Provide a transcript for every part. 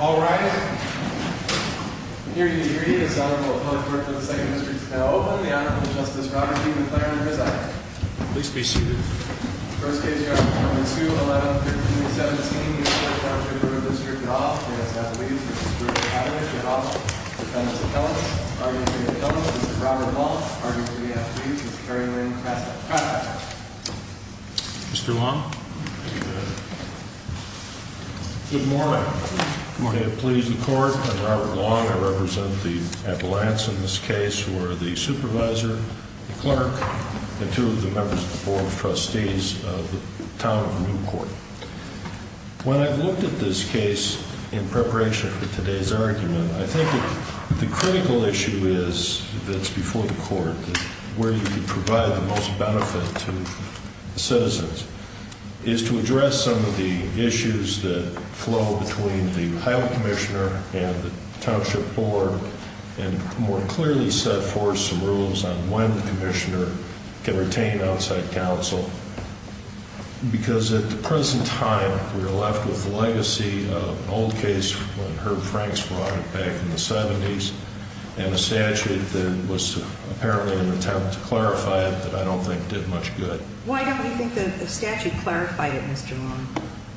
All rise. Here to introduce the Honorable Appellate Court for the 2nd District is now open. The Honorable Justice Robert D. McLaren presides. Please be seated. First case, Your Honor, formula 2, 11-13-17. The Appellate Court for the 2nd District is now open. We ask that the witnesses, Mr. Richard Pavelich, Mr. Hoffman, Mr. Dennis McKellips, Mr. R. E. J. McKellips, Mr. Robert Hall, R. E. J. McKellips, Mr. Terry Lynn Krasak. Mr. Long. Good morning. Good morning. I please the Court. I'm Robert Long. I represent the Appellants in this case who are the Supervisor, the Clerk, and two of the members of the Board of Trustees of the Town of Newport. When I've looked at this case in preparation for today's argument, I think the critical issue is, that's before the Court, where you can provide the most benefit to citizens, is to address some of the issues that flow between the Highland Commissioner and the Township Board and more clearly set forth some rules on when the Commissioner can retain outside counsel. Because at the present time, we are left with the legacy of an old case when Herb Franks brought it back in the 70s and a statute that was apparently an attempt to clarify it that I don't think did much good. Why don't you think the statute clarified it, Mr. Long?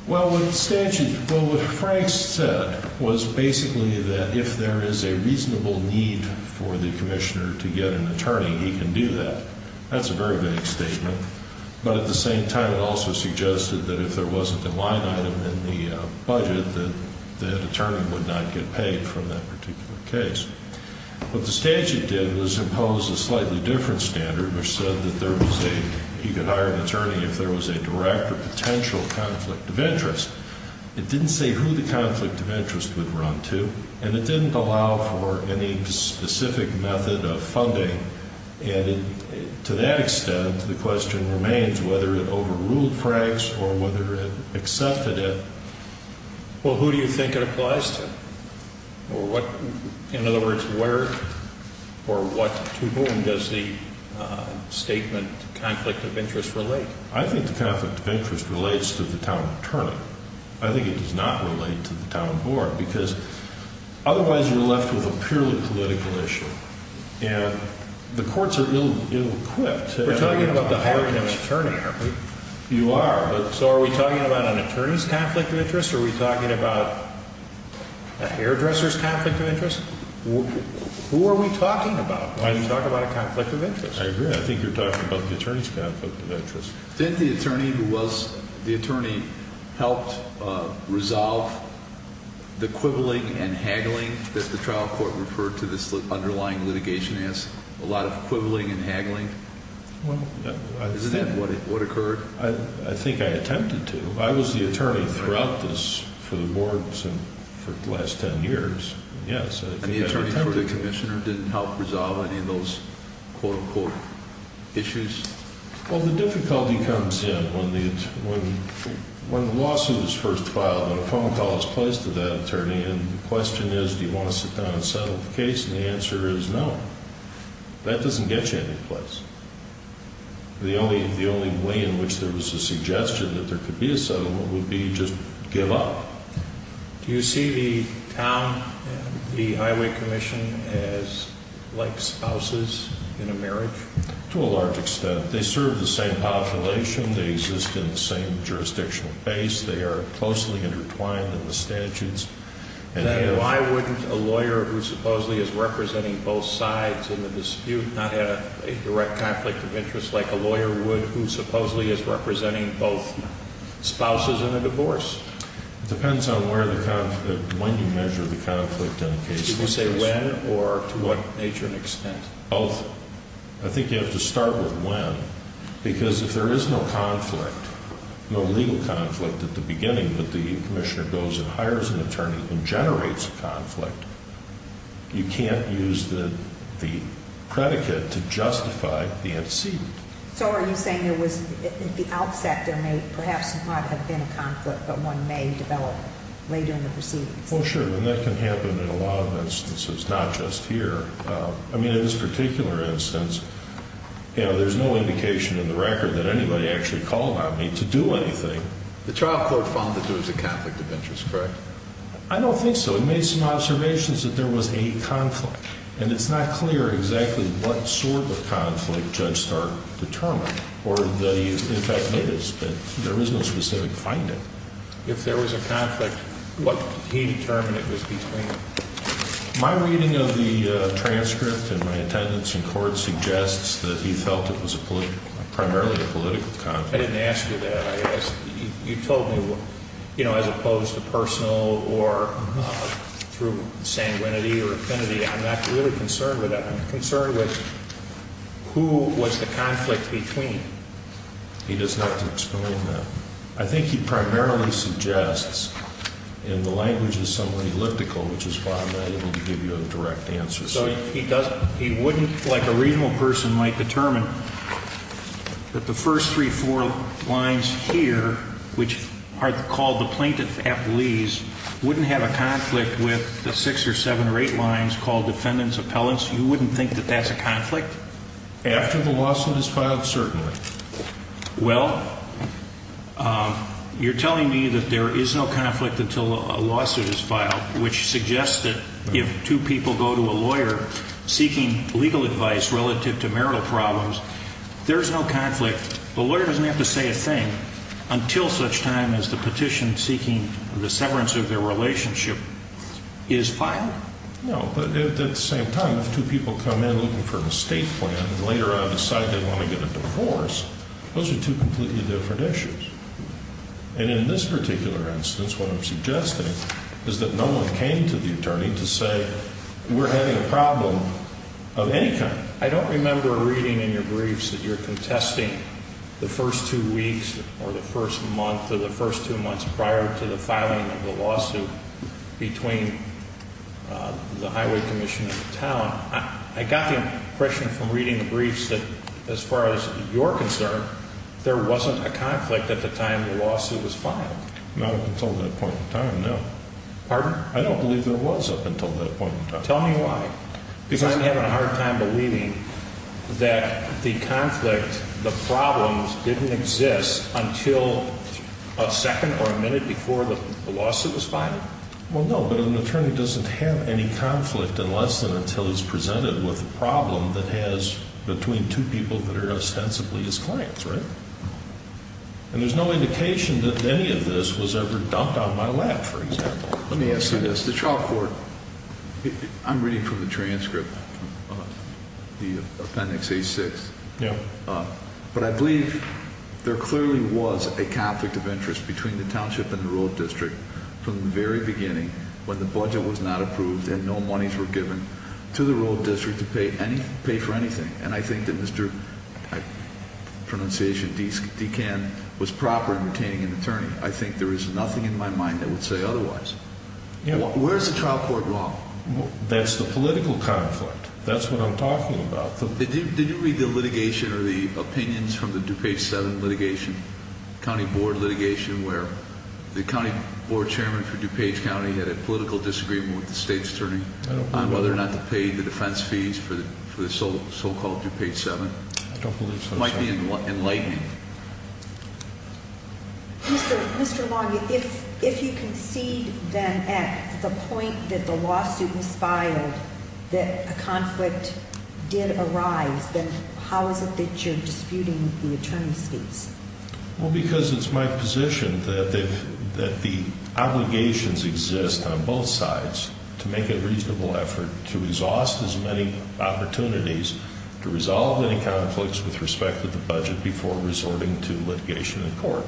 Well, the statute, what Franks said was basically that if there is a reasonable need for the Commissioner to get an attorney, he can do that. That's a very vague statement. But at the same time, it also suggested that if there wasn't a line item in the budget, that an attorney would not get paid for that particular case. What the statute did was impose a slightly different standard, which said that there was a, he could hire an attorney if there was a direct or potential conflict of interest. It didn't say who the conflict of interest would run to, and it didn't allow for any specific method of funding. And to that extent, the question remains whether it overruled Franks or whether it accepted Well, who do you think it applies to? In other words, where or what to whom does the statement conflict of interest relate? I think the conflict of interest relates to the town attorney. I think it does not relate to the town board, because otherwise you're left with a purely political issue. And the courts are ill-equipped. We're talking about the hiring of an attorney, aren't we? You are. So are we talking about an attorney's conflict of interest? Are we talking about a hairdresser's conflict of interest? Who are we talking about when we talk about a conflict of interest? I agree. I think you're talking about the attorney's conflict of interest. Didn't the attorney who was the attorney help resolve the quibbling and haggling that the trial court referred to this underlying litigation as? A lot of quibbling and haggling? Well, yeah. Isn't that what occurred? I think I attempted to. I was the attorney throughout this for the board for the last ten years. Yes, I think I attempted to. And the attorney who was the commissioner didn't help resolve any of those quote-unquote issues? Well, the difficulty comes in when the lawsuit is first filed and a phone call is placed to that attorney and the question is, do you want to sit down and settle the case? And the answer is no. That doesn't get you anyplace. The only way in which there was a suggestion that there could be a settlement would be just give up. Do you see the town, the highway commission, as like spouses in a marriage? To a large extent. They serve the same population. They exist in the same jurisdictional base. They are closely intertwined in the statutes. Then why wouldn't a lawyer who supposedly is representing both sides in the dispute not have a direct conflict of interest like a lawyer would who supposedly is representing both spouses in a divorce? It depends on when you measure the conflict in the case. Did you say when or to what nature and extent? I think you have to start with when because if there is no conflict, no legal conflict at the beginning, but the commissioner goes and hires an attorney and generates a conflict, you can't use the predicate to justify the antecedent. So are you saying at the outset there may perhaps not have been a conflict, but one may develop later in the proceedings? Well sure, and that can happen in a lot of instances, not just here. I mean in this particular instance, there's no indication in the record that anybody actually called on me to do anything. The trial court found that there was a conflict of interest, correct? I don't think so. So we made some observations that there was a conflict, and it's not clear exactly what sort of conflict Judge Stark determined, or that he in fact made it, but there is no specific finding. If there was a conflict, what he determined it was between them. My reading of the transcript and my attendance in court suggests that he felt it was primarily a political conflict. I didn't ask you that. You told me, you know, as opposed to personal or through sanguinity or affinity, I'm not really concerned with that. I'm concerned with who was the conflict between. He doesn't have to explain that. I think he primarily suggests, and the language is somewhat elliptical, which is why I'm not able to give you a direct answer. So he wouldn't, like a reasonable person, might determine that the first three or four lines here, which are called the plaintiff-appellees, wouldn't have a conflict with the six or seven or eight lines called defendants-appellants? You wouldn't think that that's a conflict? After the lawsuit is filed, certainly. Well, you're telling me that there is no conflict until a lawsuit is filed, which suggests that if two people go to a lawyer seeking legal advice relative to marital problems, there's no conflict. The lawyer doesn't have to say a thing until such time as the petition seeking the severance of their relationship is filed? No, but at the same time, if two people come in looking for an estate plan and later on decide they want to get a divorce, those are two completely different issues. And in this particular instance, what I'm suggesting is that no one came to the attorney to say we're having a problem of any kind. I don't remember reading in your briefs that you're contesting the first two weeks or the first month or the first two months prior to the filing of the lawsuit between the highway commission and the town. I got the impression from reading the briefs that, as far as you're concerned, there wasn't a conflict at the time the lawsuit was filed. Not until that point in time, no. Pardon? I don't believe there was up until that point in time. Tell me why. Because I'm having a hard time believing that the conflict, the problems didn't exist until a second or a minute before the lawsuit was filed? Well, no, but an attorney doesn't have any conflict unless and until he's presented with a problem that has between two people that are ostensibly his clients, right? And there's no indication that any of this was ever dumped on my lap, for example. Let me ask you this. The trial court, I'm reading from the transcript, the appendix A-6, but I believe there clearly was a conflict of interest between the township and the rural district from the very beginning when the budget was not approved and no monies were given to the rural district to pay for anything. And I think that Mr. DeCann was proper in retaining an attorney. I think there is nothing in my mind that would say otherwise. Where is the trial court wrong? That's the political conflict. That's what I'm talking about. Did you read the litigation or the opinions from the DuPage 7 litigation, county board litigation, where the county board chairman for DuPage County had a political disagreement with the state's attorney on whether or not to pay the defense fees for the so-called DuPage 7? I don't believe so, sir. It might be enlightening. Mr. Long, if you concede then at the point that the lawsuit was filed that a conflict did arise, then how is it that you're disputing the attorney's case? Well, because it's my position that the obligations exist on both sides to make a reasonable effort to exhaust as many opportunities to resolve any conflicts with respect to the budget before resorting to litigation in court.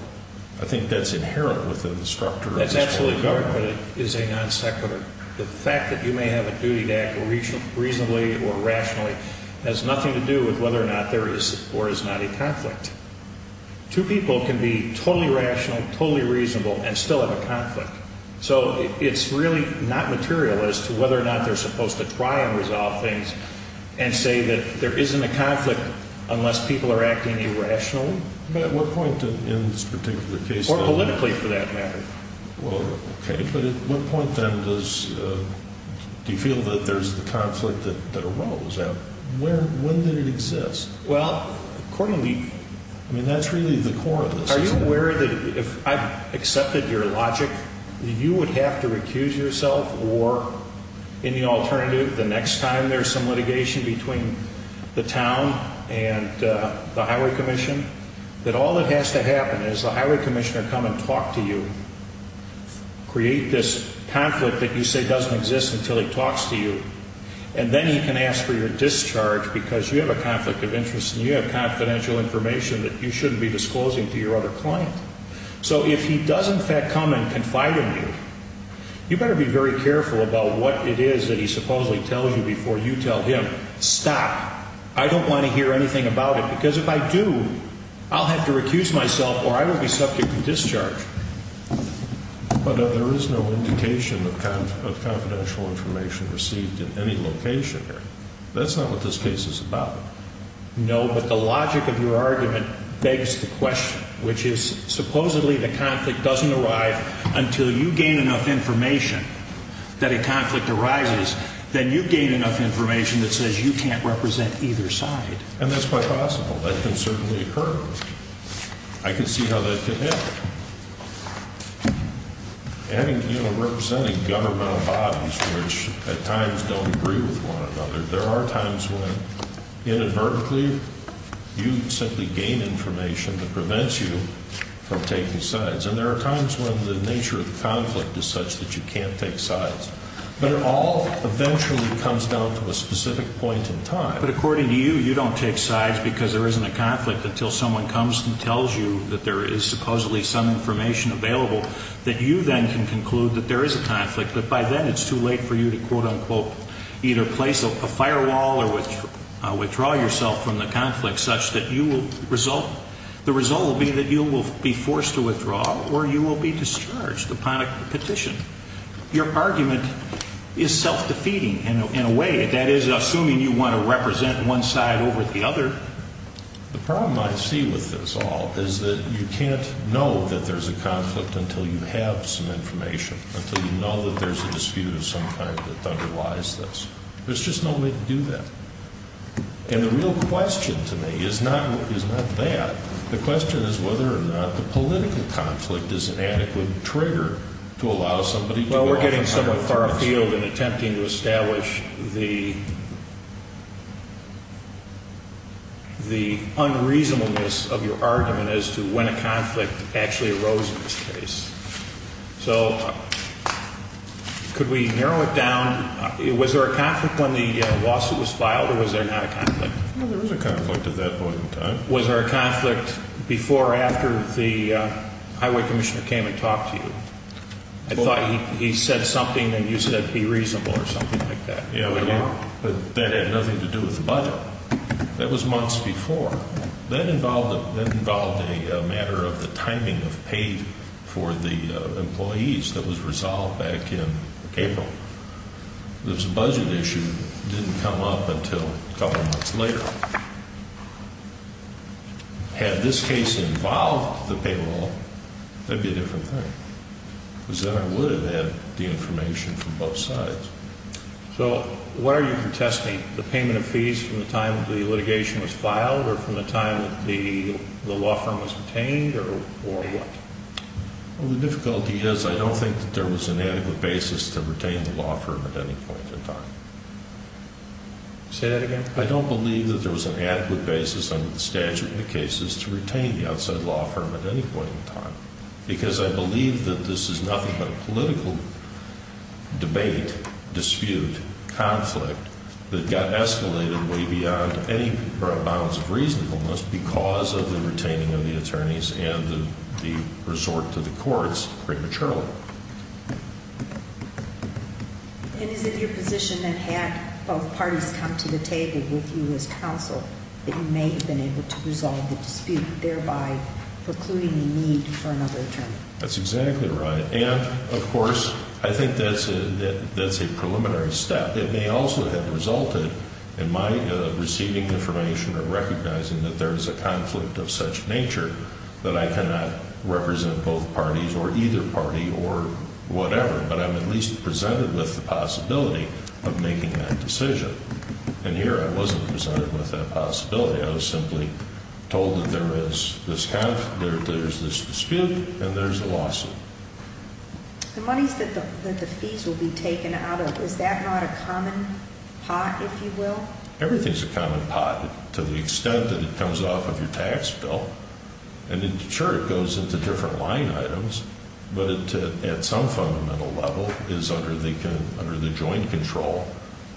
I think that's inherent within the structure of this court of government. That's absolutely correct, but it is a non-sequitur. The fact that you may have a duty to act reasonably or rationally has nothing to do with whether or not there is or is not a conflict. Two people can be totally rational, totally reasonable, and still have a conflict. So it's really not material as to whether or not they're supposed to try and resolve things and say that there isn't a conflict unless people are acting irrationally? At what point in this particular case? Or politically, for that matter. Well, okay, but at what point then do you feel that there's the conflict that arose? When did it exist? Well, accordingly... I mean, that's really the core of this, isn't it? Are you aware that if I accepted your logic that you would have to recuse yourself or any alternative the next time there's some litigation between the town and the highway commission, that all that has to happen is the highway commissioner come and talk to you, create this conflict that you say doesn't exist until he talks to you, and then he can ask for your discharge because you have a conflict of interest and you have confidential information that you shouldn't be disclosing to your other client. So if he does in fact come and confide in you, you better be very careful about what it is that he supposedly tells you before you tell him. Stop. I don't want to hear anything about it because if I do, I'll have to recuse myself or I will be subject to discharge. But there is no indication of confidential information received in any location here. That's not what this case is about. No, but the logic of your argument begs the question, which is supposedly the conflict doesn't arrive until you gain enough information that a conflict arises, then you gain enough information that says you can't represent either side. And that's quite possible. That can certainly occur. I can see how that could happen. And, you know, representing governmental bodies which at times don't agree with one another, there are times when inadvertently you simply gain information that prevents you from taking sides. And there are times when the nature of the conflict is such that you can't take sides. But it all eventually comes down to a specific point in time. But according to you, you don't take sides because there isn't a conflict until someone comes and tells you that there is supposedly some information available that you then can conclude that there is a conflict. But by then it's too late for you to, quote unquote, either place a firewall or withdraw yourself from the conflict such that the result will be that you will be forced to withdraw or you will be discharged upon a petition. Your argument is self-defeating in a way. That is, assuming you want to represent one side over the other. The problem I see with this all is that you can't know that there's a conflict until you have some information, until you know that there's a dispute of some kind that underlies this. There's just no way to do that. And the real question to me is not that. The question is whether or not the political conflict is an adequate trigger to allow somebody to go off on their terms. Well, we're getting somewhat far afield in attempting to establish the unreasonableness of your argument as to when a conflict actually arose in this case. So, could we narrow it down? Was there a conflict when the lawsuit was filed or was there not a conflict? There was a conflict at that point in time. Was there a conflict before or after the highway commissioner came and talked to you? I thought he said something and you said be reasonable or something like that. That had nothing to do with the budget. That was months before. That involved a matter of the timing of pay for the employees that was resolved back in April. This budget issue didn't come up until a couple months later. Had this case involved the payroll, that would be a different thing. Because then I would have had the information from both sides. So, what are you protesting? The payment of fees from the time the litigation was filed or from the time the law firm was obtained or what? Well, the difficulty is I don't think that there was an adequate basis to retain the law firm at any point in time. Say that again? I don't believe that there was an adequate basis under the statute in the cases to retain the outside law firm at any point in time. Because I believe that this is nothing but a political debate, dispute, conflict that got escalated way beyond any bounds of reasonableness because of the retaining of the attorneys and the resort to the courts prematurely. And is it your position that had both parties come to the table with you as counsel that you may have been able to resolve the dispute thereby precluding the need for another attorney? That's exactly right. And, of course, I think that's a preliminary step. It may also have resulted in my receiving information or recognizing that there is a conflict of such nature that I cannot represent both parties or either party or whatever. But I'm at least presented with the possibility of making that decision. And here I wasn't presented with that possibility. I was simply told that there is this dispute and there's a lawsuit. The monies that the fees will be taken out of, is that not a common pot, if you will? Everything's a common pot to the extent that it comes off of your tax bill. And sure, it goes into different line items, but at some fundamental level is under the joint control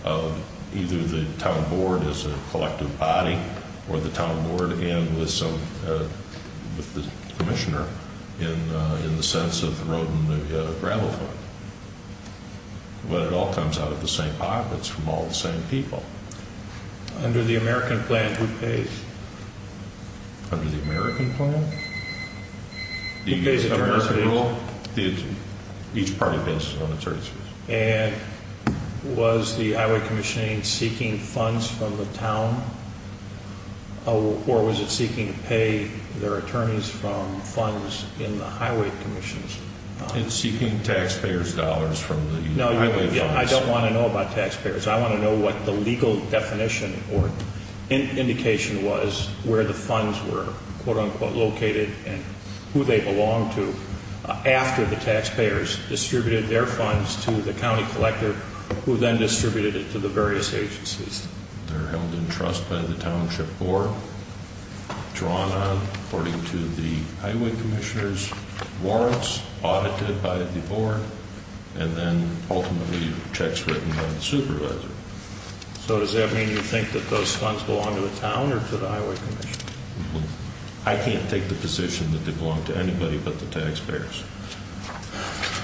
of either the town board as a collective body or the town board and with the commissioner in the sense of the road and the gravel fund. But it all comes out of the same pockets from all the same people. Under the American plan, who pays? Under the American plan? Who pays the attorneys fees? Each party pays its own attorneys fees. And was the highway commissioning seeking funds from the town or was it seeking to pay their attorneys from funds in the highway commissions? It's seeking taxpayers' dollars from the highway funds. No, I don't want to know about taxpayers. I want to know what the legal definition or indication was where the funds were located and who they belonged to after the taxpayers distributed their funds to the county collector who then distributed it to the various agencies. They're held in trust by the township board, drawn on according to the highway commissioner's warrants, audited by the board, and then ultimately checks written by the supervisor. So does that mean you think that those funds belong to the town or to the highway commission? I can't take the position that they belong to anybody but the taxpayers.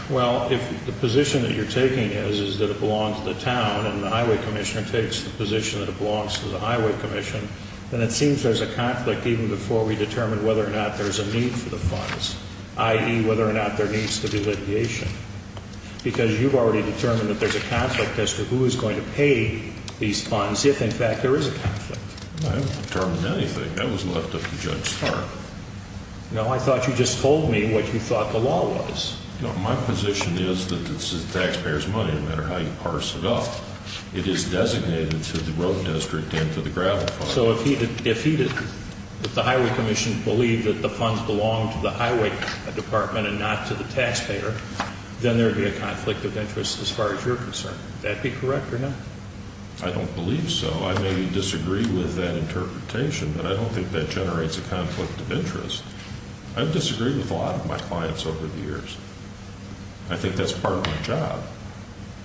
Well, if the position that you're taking is that it belongs to the town and the highway commissioner takes the position that it belongs to the highway commission, then it seems there's a conflict even before we determine whether or not there's a need for the funds, i.e., whether or not there needs to be litigation. Because you've already determined that there's a conflict as to who is going to pay these funds if, in fact, there is a conflict. I haven't determined anything. That was left up to Judge Stark. No, I thought you just told me what you thought the law was. No, my position is that this is taxpayers' money, no matter how you parse it up. It is designated to the road district and to the gravel fund. So if the highway commission believed that the funds belonged to the highway department and not to the taxpayer, then there would be a conflict of interest as far as you're concerned. Would that be correct or not? I don't believe so. I may disagree with that interpretation, but I don't think that generates a conflict of interest. I've disagreed with a lot of my clients over the years. I think that's part of my job,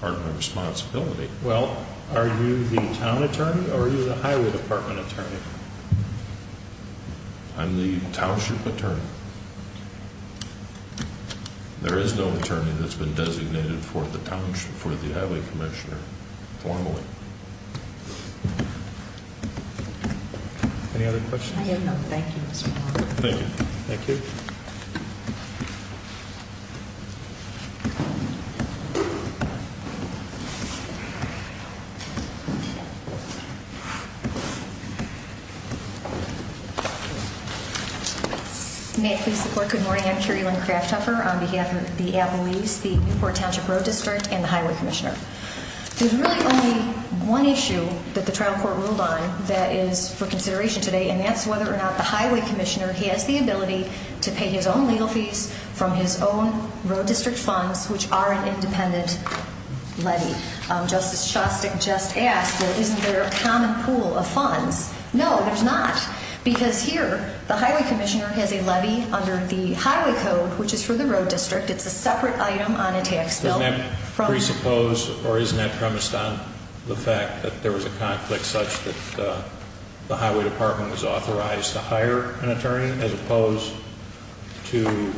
part of my responsibility. Well, are you the town attorney or are you the highway department attorney? I'm the township attorney. There is no attorney that's been designated for the highway commissioner formally. Any other questions? I have no thank yous. Thank you. Thank you. Thank you. May it please the court, good morning. I'm Kerrilynn Krafthofer on behalf of the Apple Leafs, the Newport Township Road District, and the highway commissioner. There's really only one issue that the trial court ruled on that is for consideration today, and that's whether or not the highway commissioner has the ability to pay his own legal fees from his own road district funds, which are an independent levy. Justice Shostak just asked, well, isn't there a common pool of funds? No, there's not, because here the highway commissioner has a levy under the highway code, which is for the road district. It's a separate item on a tax bill. Doesn't that presuppose or isn't that premised on the fact that there was a conflict such that the highway department was authorized to hire an attorney as opposed to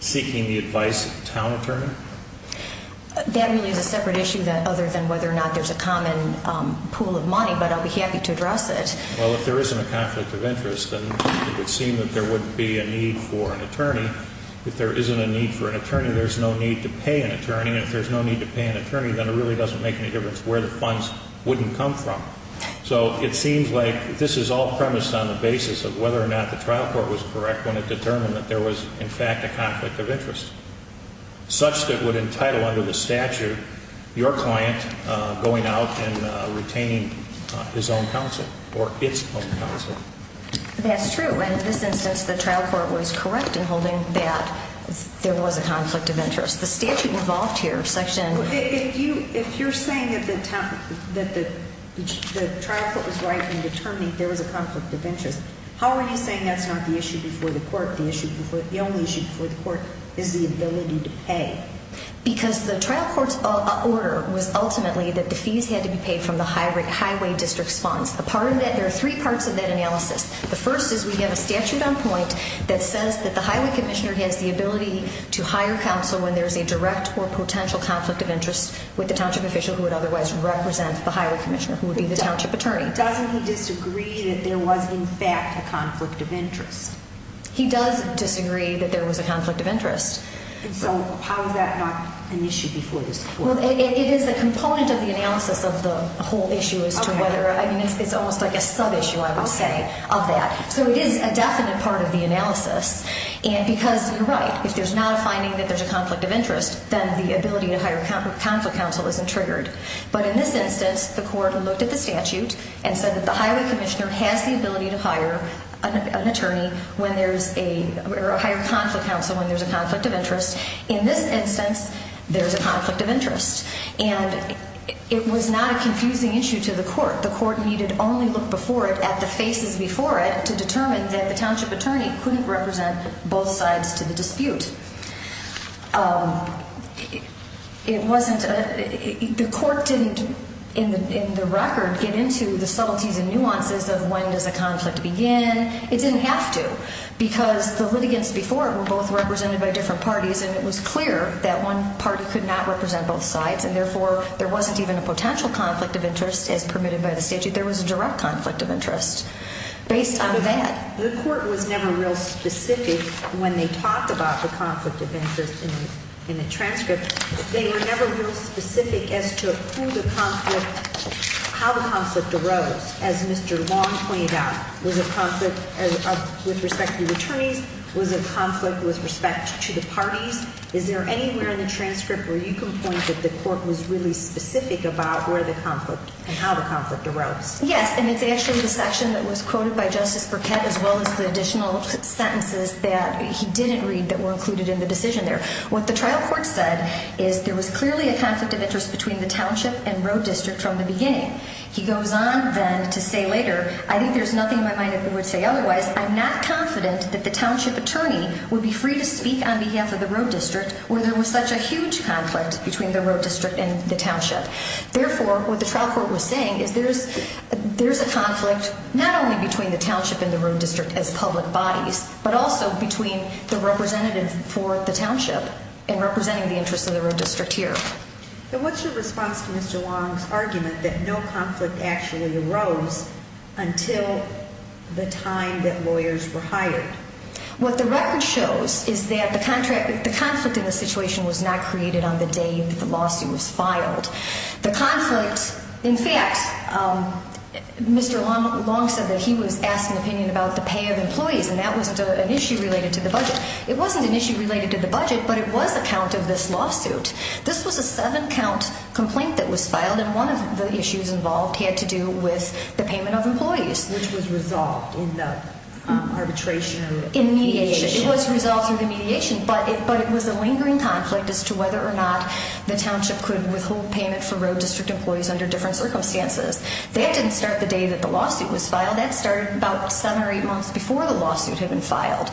seeking the advice of the town attorney? That really is a separate issue other than whether or not there's a common pool of money, but I'll be happy to address it. Well, if there isn't a conflict of interest, then it would seem that there wouldn't be a need for an attorney. If there isn't a need for an attorney, there's no need to pay an attorney, and if there's no need to pay an attorney, then it really doesn't make any difference where the funds wouldn't come from. So it seems like this is all premised on the basis of whether or not the trial court was correct when it determined that there was, in fact, a conflict of interest. Such that it would entitle, under the statute, your client going out and retaining his own counsel or its own counsel. That's true, and in this instance the trial court was correct in holding that there was a conflict of interest. The statute involved here section... If you're saying that the trial court was right in determining there was a conflict of interest, how are you saying that's not the issue before the court? The only issue before the court is the ability to pay? Because the trial court's order was ultimately that the fees had to be paid from the highway district's funds. There are three parts of that analysis. The first is we have a statute on point that says that the highway commissioner has the ability to hire counsel when there's a direct or potential conflict of interest with the township official who would otherwise represent the highway commissioner, who would be the township attorney. Doesn't he disagree that there was, in fact, a conflict of interest? He does disagree that there was a conflict of interest. So how is that not an issue before this court? It is a component of the analysis of the whole issue as to whether... I mean, it's almost like a sub-issue, I would say, of that. So it is a definite part of the analysis, and because you're right, if there's not a finding that there's a conflict of interest, then the ability to hire a conflict counsel isn't triggered. But in this instance, the court looked at the statute and said that the highway commissioner has the ability to hire an attorney when there's a... or hire a conflict counsel when there's a conflict of interest. In this instance, there's a conflict of interest. And it was not a confusing issue to the court. The court needed only look before it at the faces before it to determine that the township attorney couldn't represent both sides to the dispute. It wasn't... The court didn't, in the record, get into the subtleties and nuances of when does a conflict begin. It didn't have to, because the litigants before it were both represented by different parties and it was clear that one party could not represent both sides and therefore there wasn't even a potential conflict of interest as permitted by the statute. There was a direct conflict of interest based on that. The court was never real specific when they talked about the conflict of interest in the transcript. They were never real specific as to who the conflict... As Mr. Long pointed out, was a conflict with respect to the attorneys, was a conflict with respect to the parties. Is there anywhere in the transcript where you can point that the court was really specific about where the conflict and how the conflict arose? Yes, and it's actually the section that was quoted by Justice Burkett as well as the additional sentences that he didn't read that were included in the decision there. What the trial court said is there was clearly a conflict of interest between the township and road district from the beginning. He goes on then to say later, I think there's nothing in my mind that they would say otherwise. I'm not confident that the township attorney would be free to speak on behalf of the road district where there was such a huge conflict between the road district and the township. Therefore, what the trial court was saying is there's a conflict not only between the township and the road district as public bodies but also between the representative for the township and representing the interests of the road district here. What's your response to Mr. Long's argument that no conflict actually arose until the time that lawyers were hired? What the record shows is that the conflict in the situation was not created on the day that the lawsuit was filed. The conflict, in fact, Mr. Long said that he was asked an opinion about the pay of employees and that wasn't an issue related to the budget. It wasn't an issue related to the budget, but it was a count of this lawsuit. This was a seven-count complaint that was filed and one of the issues involved had to do with the payment of employees. Which was resolved in the arbitration or mediation? It was resolved in the mediation, but it was a lingering conflict as to whether or not the township could withhold payment for road district employees under different circumstances. That didn't start the day that the lawsuit was filed. That started about seven or eight months before the lawsuit had been filed.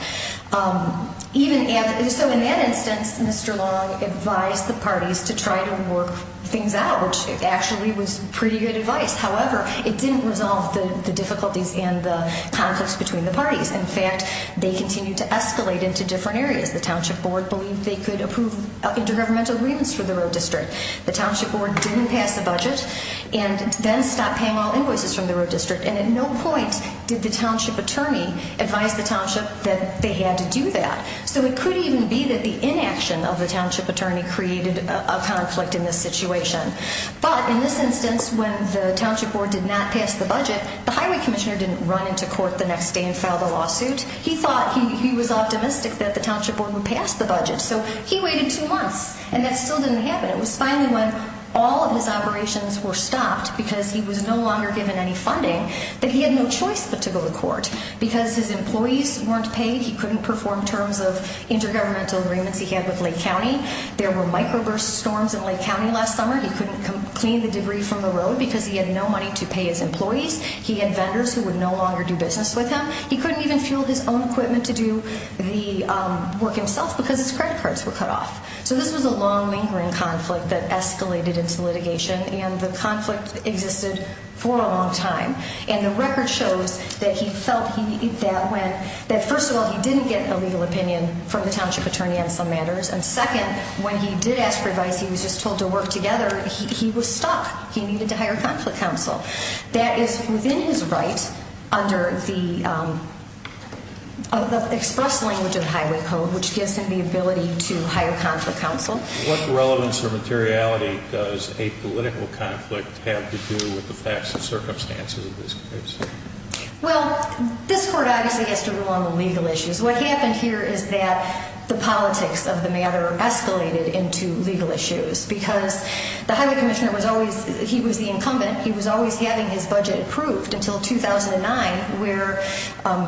So in that instance, Mr. Long advised the parties to try to work things out, which actually was pretty good advice. However, it didn't resolve the difficulties and the conflicts between the parties. In fact, they continued to escalate into different areas. The township board believed they could approve intergovernmental agreements for the road district. The township board didn't pass a budget and then stopped paying all invoices from the road district. And at no point did the township attorney advise the township that they had to do that. So it could even be that the inaction of the township attorney created a conflict in this situation. But in this instance, when the township board did not pass the budget, the highway commissioner didn't run into court the next day and file the lawsuit. He thought, he was optimistic that the township board would pass the budget. So he waited two months, and that still didn't happen. It was finally when all of his operations were stopped, because he was no longer given any funding, that he had no choice but to go to court. Because his employees weren't paid, he couldn't perform terms of intergovernmental agreements he had with Lake County. There were microburst storms in Lake County last summer. He couldn't clean the debris from the road because he had no money to pay his employees. He had vendors who would no longer do business with him. He couldn't even fuel his own equipment to do the work himself because his credit cards were cut off. So this was a long lingering conflict that escalated into litigation. And the conflict existed for a long time. And the record shows that he felt that, first of all, he didn't get a legal opinion from the township attorney on some matters. And second, when he did ask for advice, he was just told to work together. He was stuck. He needed to hire a conflict counsel. That is within his right, under the express language of the Highway Code, which gives him the ability to hire conflict counsel. What relevance or materiality does a political conflict have to do with the facts and circumstances of this case? Well, this Court obviously has to rule on the legal issues. What happened here is that the politics of the matter escalated into legal issues. Because the Highway Commissioner was always, he was the incumbent, he was always having his budget approved until 2009, where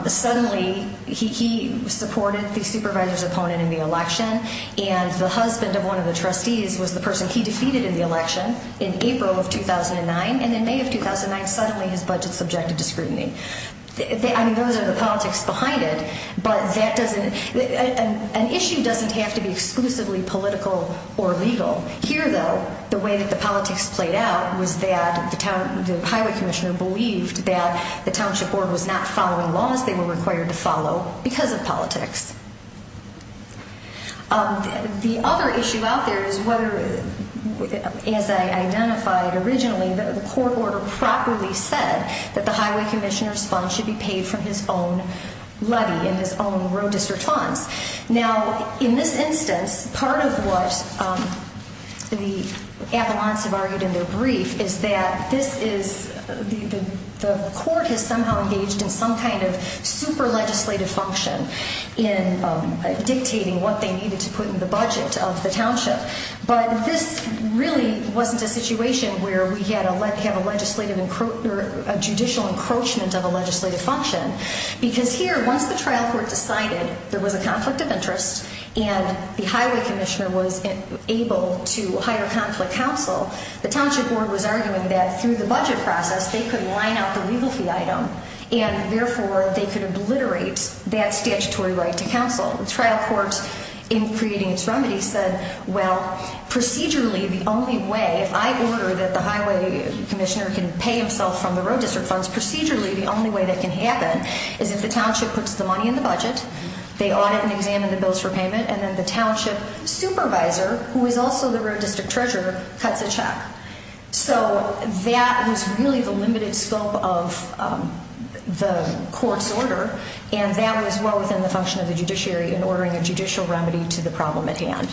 suddenly he supported the supervisor's opponent in the election. And the husband of one of the trustees was the person he defeated in the election in April of 2009, and in May of 2009, suddenly his budget subjected to scrutiny. I mean, those are the politics behind it, but that doesn't, an issue doesn't have to be exclusively political or legal. Here, though, the way that the politics played out was that the Highway Commissioner believed that the township board was not following laws they were required to follow because of politics. The other issue out there is whether, as I identified originally, the court order properly said that the Highway Commissioner's fund should be paid from his own levy, in his own road district funds. Now, in this instance, part of what the Avalanches have argued in their brief is that this is, the court has somehow engaged in some kind of super legislative function in dictating what they needed to put in the budget of the township. But this really wasn't a situation where we had a legislative, a judicial encroachment of a legislative function. Because here, once the trial court decided there was a conflict of interest and the Highway Commissioner was able to hire conflict counsel, the township board was arguing that through the budget process, they could line up the legal fee item, and therefore they could obliterate that statutory right to counsel. The trial court, in creating its remedy, said, well, procedurally, the only way, if I order that the Highway Commissioner can pay himself from the road district funds, procedurally, the only way that can happen is if the township puts the money in the budget, they audit and examine the bills for payment, and then the township supervisor, who is also the road district treasurer, cuts a check. So, that was really the limited scope of the court's order, and that was well within the function of the judiciary in ordering a judicial remedy to the problem at hand.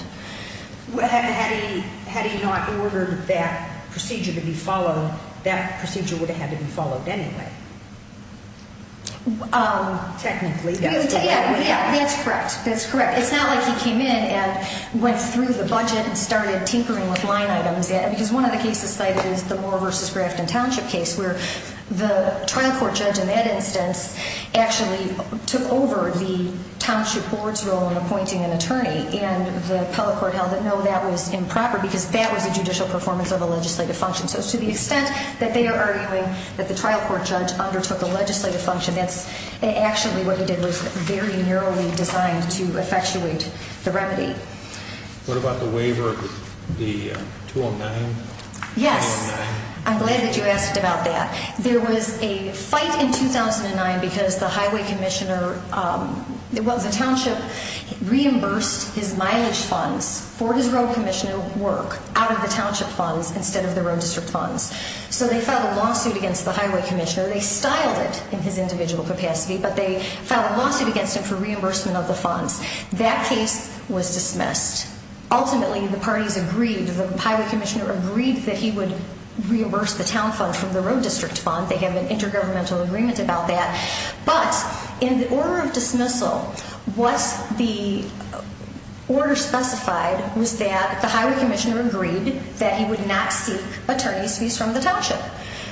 Had he not ordered that procedure to be followed, that procedure would have had to be followed anyway. Technically, yes. That's correct. It's not like he came in and went through the budget and started tinkering with line items. Because one of the cases cited is the Moore v. Grafton Township case, where the trial court judge in that instance actually took over the township board's role in appointing an attorney, and the appellate court held that, no, that was improper because that was a judicial performance of a legislative function. So, to the extent that they are arguing that the trial court judge undertook a legislative function, that's actually what he did. It was very narrowly designed to effectuate the remedy. What about the waiver of the 209? Yes. I'm glad that you asked about that. There was a fight in 2009 because the highway commissioner, well, the township reimbursed his mileage funds for his road commission work out of the township funds instead of the road district funds. So they filed a lawsuit against the highway commissioner. They styled it in his individual capacity, but they filed a lawsuit against him for reimbursement of the funds. That case was dismissed. Ultimately, the parties agreed. The highway commissioner agreed that he would reimburse the town fund from the road district fund. They have an intergovernmental agreement about that. But, in the order of dismissal, what the order specified was that the highway commissioner agreed that he would not seek attorney's fees from the township,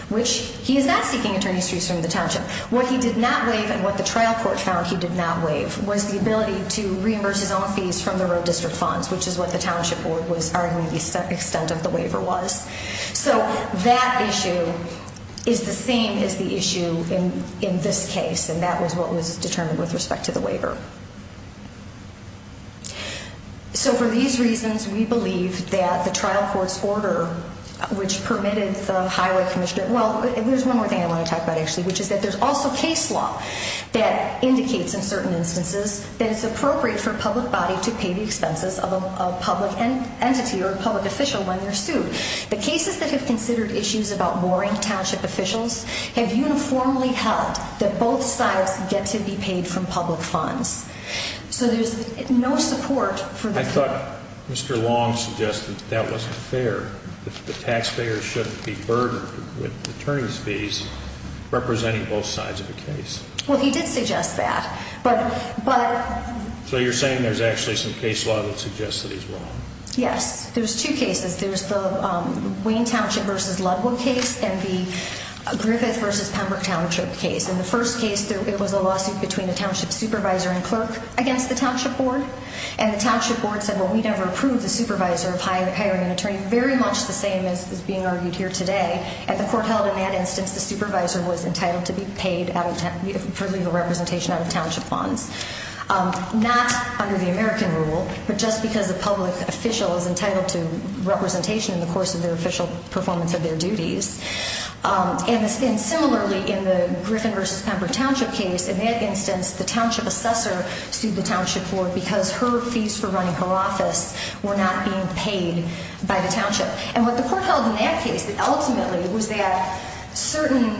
which he is not seeking attorney's fees from the township. What he did not waive, and what the trial court found he did not waive, was the ability to reimburse his own fees from the road district funds, which is what the township board was arguing the extent of the waiver was. So that issue is the same as the issue in this case, and that was what was determined with respect to the waiver. So for these reasons, we believe that the trial court's order, which permitted the highway commissioner, well, there's one more thing I want to talk about, actually, which is that there's also case law that indicates in certain instances that it's appropriate for a public body to pay the expenses of a public entity or a public official when they're sued. The cases that have considered issues about mooring township officials have uniformly held that both sides get to be paid from public funds. So there's no support for that. I thought Mr. Long suggested that wasn't fair, that the taxpayers shouldn't be burdened with attorney's fees representing both sides of the case. Well, he did suggest that. So you're saying there's actually some case law that suggests that he's wrong. Yes. There's two cases. There's the Wayne Township v. Ludwood case and the Griffith v. Pembroke Township case. In the first case, it was a lawsuit between a township supervisor and clerk against the township board, and the township board said, well, we never approved the supervisor of hiring an attorney, very much the same as is being argued here today. And the court held in that instance the supervisor was entitled to be paid for legal representation out of township funds. Not under the American rule, but just because a public official is entitled to representation in the course of their official performance of their duties. And similarly, in the Griffith v. Pembroke Township case, in that instance, the township assessor sued the township board because her fees for running her office were not being paid by the township. And what the court held in that case ultimately was that certain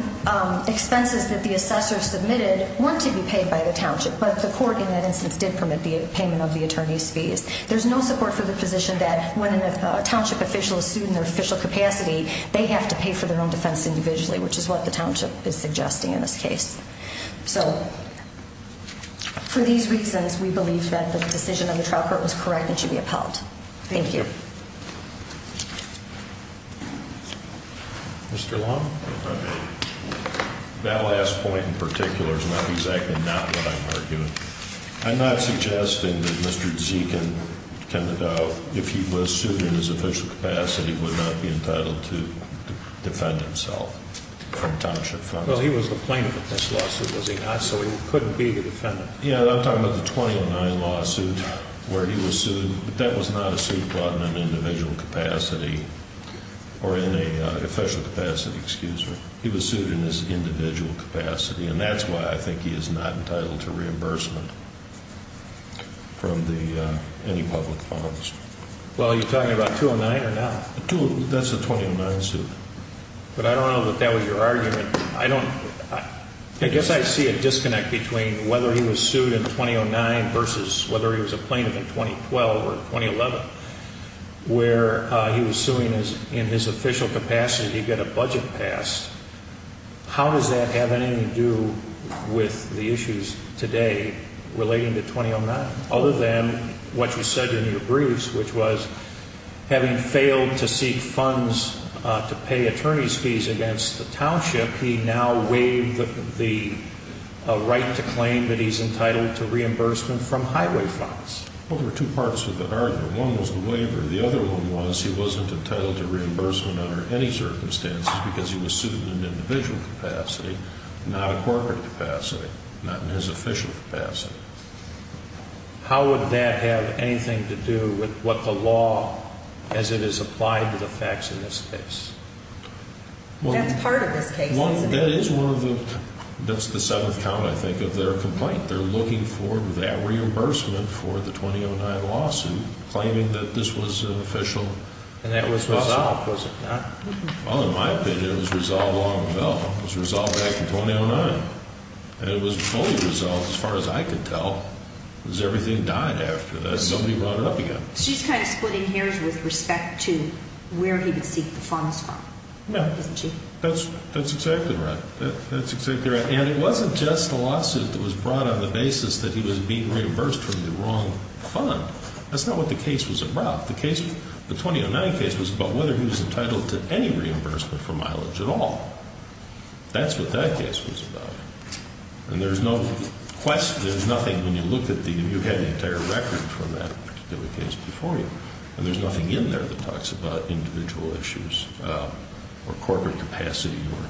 expenses that the assessor submitted weren't to be paid by the township, but the court in that instance did permit the payment of the attorney's fees. There's no support for the position that when a township official is sued in their official capacity, they have to pay for their own defense individually, which is what the township is suggesting in this case. So, for these reasons, we believe that the decision of the trial court was correct and should be upheld. Thank you. Mr. Long? That last point in particular is not exactly not what I'm arguing. I'm not suggesting that Mr. Zekin, if he was sued in his official capacity, would not be entitled to defend himself from township funds. Well, he was the plaintiff in this lawsuit, was he not? So he couldn't be the defendant. Yeah, I'm talking about the 2009 lawsuit where he was sued, but that was not a suit brought in an individual capacity or in an official capacity. Excuse me. He was sued in his individual capacity and that's why I think he is not entitled to reimbursement from any public funds. Well, are you talking about 2009 or not? That's the 2009 suit. But I don't know if that was your argument. I guess I see a disconnect between whether he was sued in 2009 versus whether he was a plaintiff in 2012 or 2011 where he was suing in his official capacity to get a budget passed. How does that have anything to do with the issues today relating to 2009? Other than what you said in your briefs which was having failed to seek funds to pay attorney's fees against the township, he now waived the right to claim that he's entitled to reimbursement from highway funds. Well, there were two parts of the argument. One was the waiver. The other one was he wasn't entitled to reimbursement under any circumstances because he was sued in an individual capacity not a corporate capacity. Not in his official capacity. How would that have anything to do with what the law as it is applied to the facts in this case? That's part of this case, isn't it? That's the seventh count I think of their complaint. They're looking for that reimbursement for the 2009 lawsuit claiming that this was an official And that was resolved, was it not? Well, in my opinion, it was resolved long ago. It was resolved back in 2009. And it was fully resolved as far as I could tell because everything died after that. Nobody brought it up again. She's kind of splitting hairs with respect to where he would seek the funds from, isn't she? That's exactly right. And it wasn't just a lawsuit that was brought on the basis that he was being reimbursed from the wrong fund. That's not what the case was about. The 2009 case was about whether he was entitled to any reimbursement for mileage at all. That's what that case was about. And there's no question, there's nothing when you look at the you had the entire record for that particular case before you. And there's nothing in there that talks about individual issues or corporate capacity or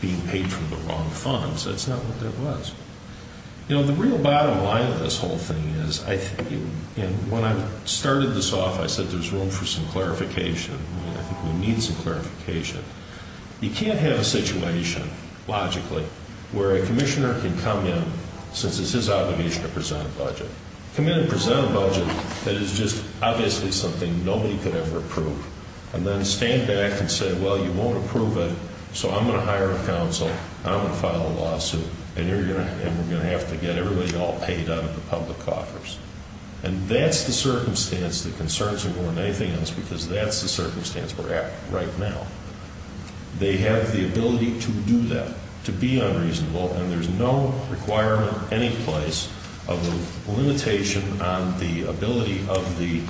being paid from the wrong funds. That's not what that was. You know, the real bottom line of this whole thing is, I think when I started this off I said there's room for some clarification. I think we need some clarification. You can't have a situation logically where a commissioner can come in, since it's his obligation to present a budget, come in and present a budget that is just obviously something nobody could ever approve, and then stand back and say, well, you won't approve it so I'm going to hire a counsel and I'm going to file a lawsuit and we're going to have to get everybody all paid out of the public coffers. And that's the circumstance, the concerns are more than anything else, because that's the circumstance we're at right now. They have the ability to do that, to be unreasonable, and there's no requirement anyplace of a limitation on the ability of the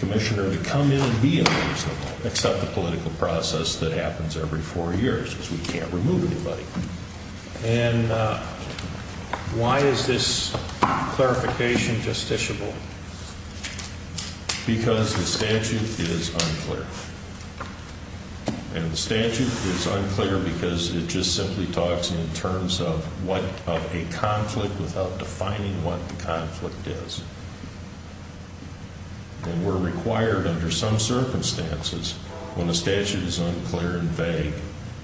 commissioner to come in and be unreasonable, except the political process that happens every four years because we can't remove anybody. And why is this clarification justiciable? Because the statute is unclear. And the statute is unclear because it just simply talks in terms of what of a conflict without defining what the conflict is. And we're required under some circumstances when the statute is unclear and vague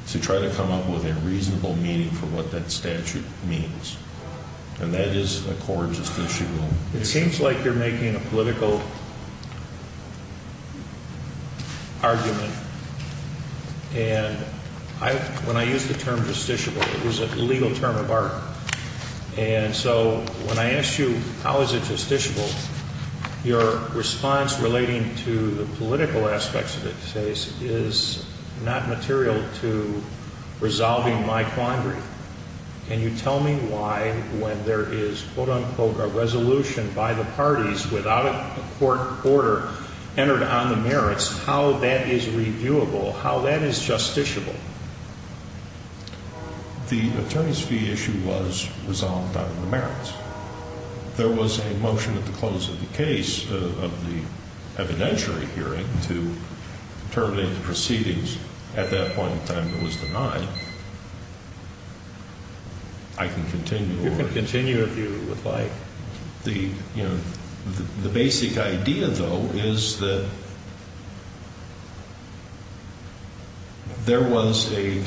to try to come up with a reasonable meaning for what that statute means. And that is a core justiciable. It seems like you're making a political argument and when I use the term justiciable it is a legal term of art. And so when I ask you how is it justiciable your response relating to the political aspects of the case is not material to resolving my quandary. Can you tell me why when there is quote unquote a resolution by the parties without a court order entered on the merits how that is reviewable? How that is justiciable? The attorney's fee issue was resolved on the merits. There was a motion at the close of the case of the evidentiary hearing to terminate the proceedings at that point in time it was denied. I can continue You can continue if you would like. The basic idea though is that there was a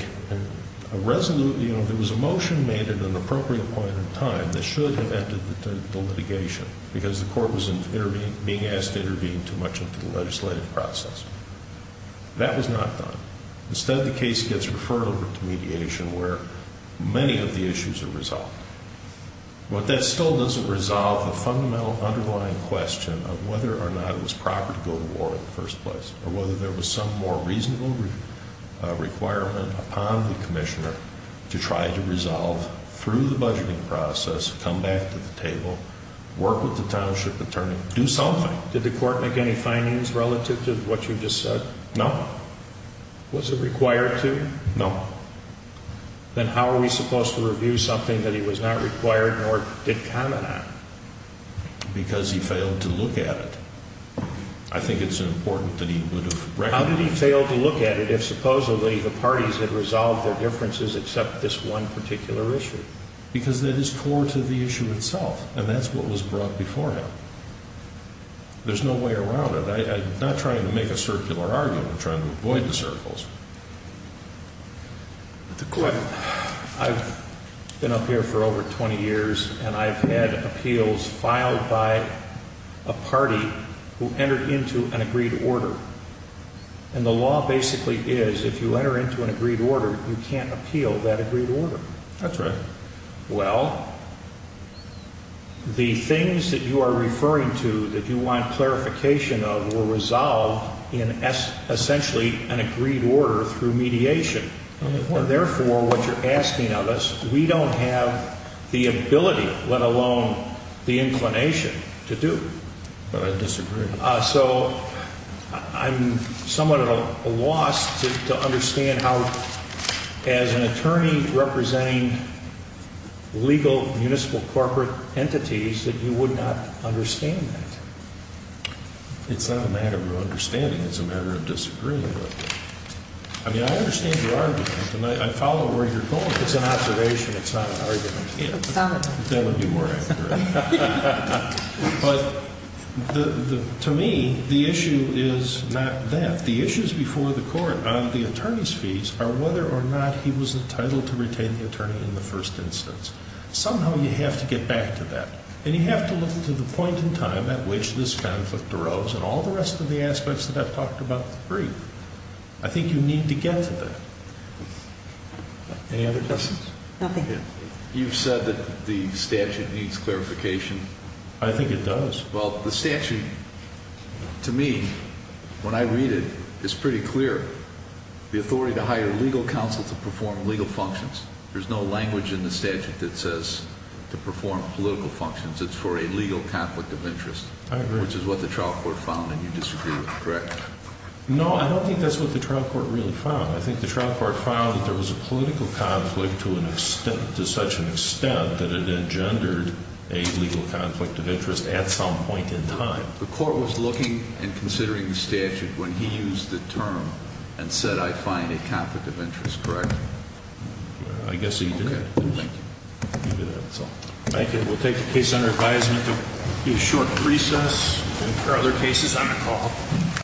resolution, there was a motion made at an appropriate point in time that should have ended the litigation because the court was being asked to intervene too much into the legislative process. That was not done. Instead the case gets referred over to mediation where many of the issues are resolved. But that still doesn't resolve the fundamental underlying question of whether or not it was proper to go to war in the first place or whether there was some more reasonable requirement upon the Commissioner to try to resolve through the budgeting process come back to the table, work with the township attorney, do something. Did the court make any findings relative to what you just said? No. Was it required to? No. Then how are we supposed to review something that he was not required nor did comment on? Because he failed to look at it. I think it's important that he would have How did he fail to look at it if supposedly the parties had resolved their differences except this one particular issue? Because that is core to the issue itself and that's what was brought before him. There's no way around it. I'm not trying to make a circular argument. I'm trying to avoid the circles. I've been up here for over 20 years and I've had appeals filed by a party who entered into an agreed order. And the law basically is if you enter into an agreed order you can't appeal that agreed order. Well, the things that you are referring to that you want clarification of were resolved in essentially an agreed order through mediation. Therefore, what you're asking of us, we don't have the ability, let alone the inclination, to do. But I disagree. So, I'm somewhat at a loss to understand how as an attorney representing legal municipal corporate entities that you would not understand that. It's not a matter of understanding, it's a matter of disagreeing. I mean, I understand your argument and I follow where you're going. It's an observation, it's not an argument. That would be more accurate. But to me the issue is not that. The issues before the court on the attorney's fees are whether or not he was entitled to retain the attorney in the first instance. Somehow you have to get back to that. And you have to look to the point in time at which this conflict arose and all the rest of the aspects that I've talked about in the brief. I think you need to get to that. Any other questions? Nothing. You've said that the statute needs clarification. I think it does. Well, the statute to me when I read it, it's pretty clear. The authority to hire legal counsel to perform legal functions. There's no language in the statute that says to perform political functions. It's for a legal conflict of interest. I agree. Which is what the trial court found and you disagree with, correct? No, I don't think that's what the trial court really found. I think the trial court found that there was a political conflict to an extent to such an extent that it engendered a legal conflict of interest. The court was looking and considering the statute when he used the term and said, I find a conflict of interest, correct? I guess he did. Thank you. Thank you. We'll take the case under advisement to a short recess. There are other cases on the call.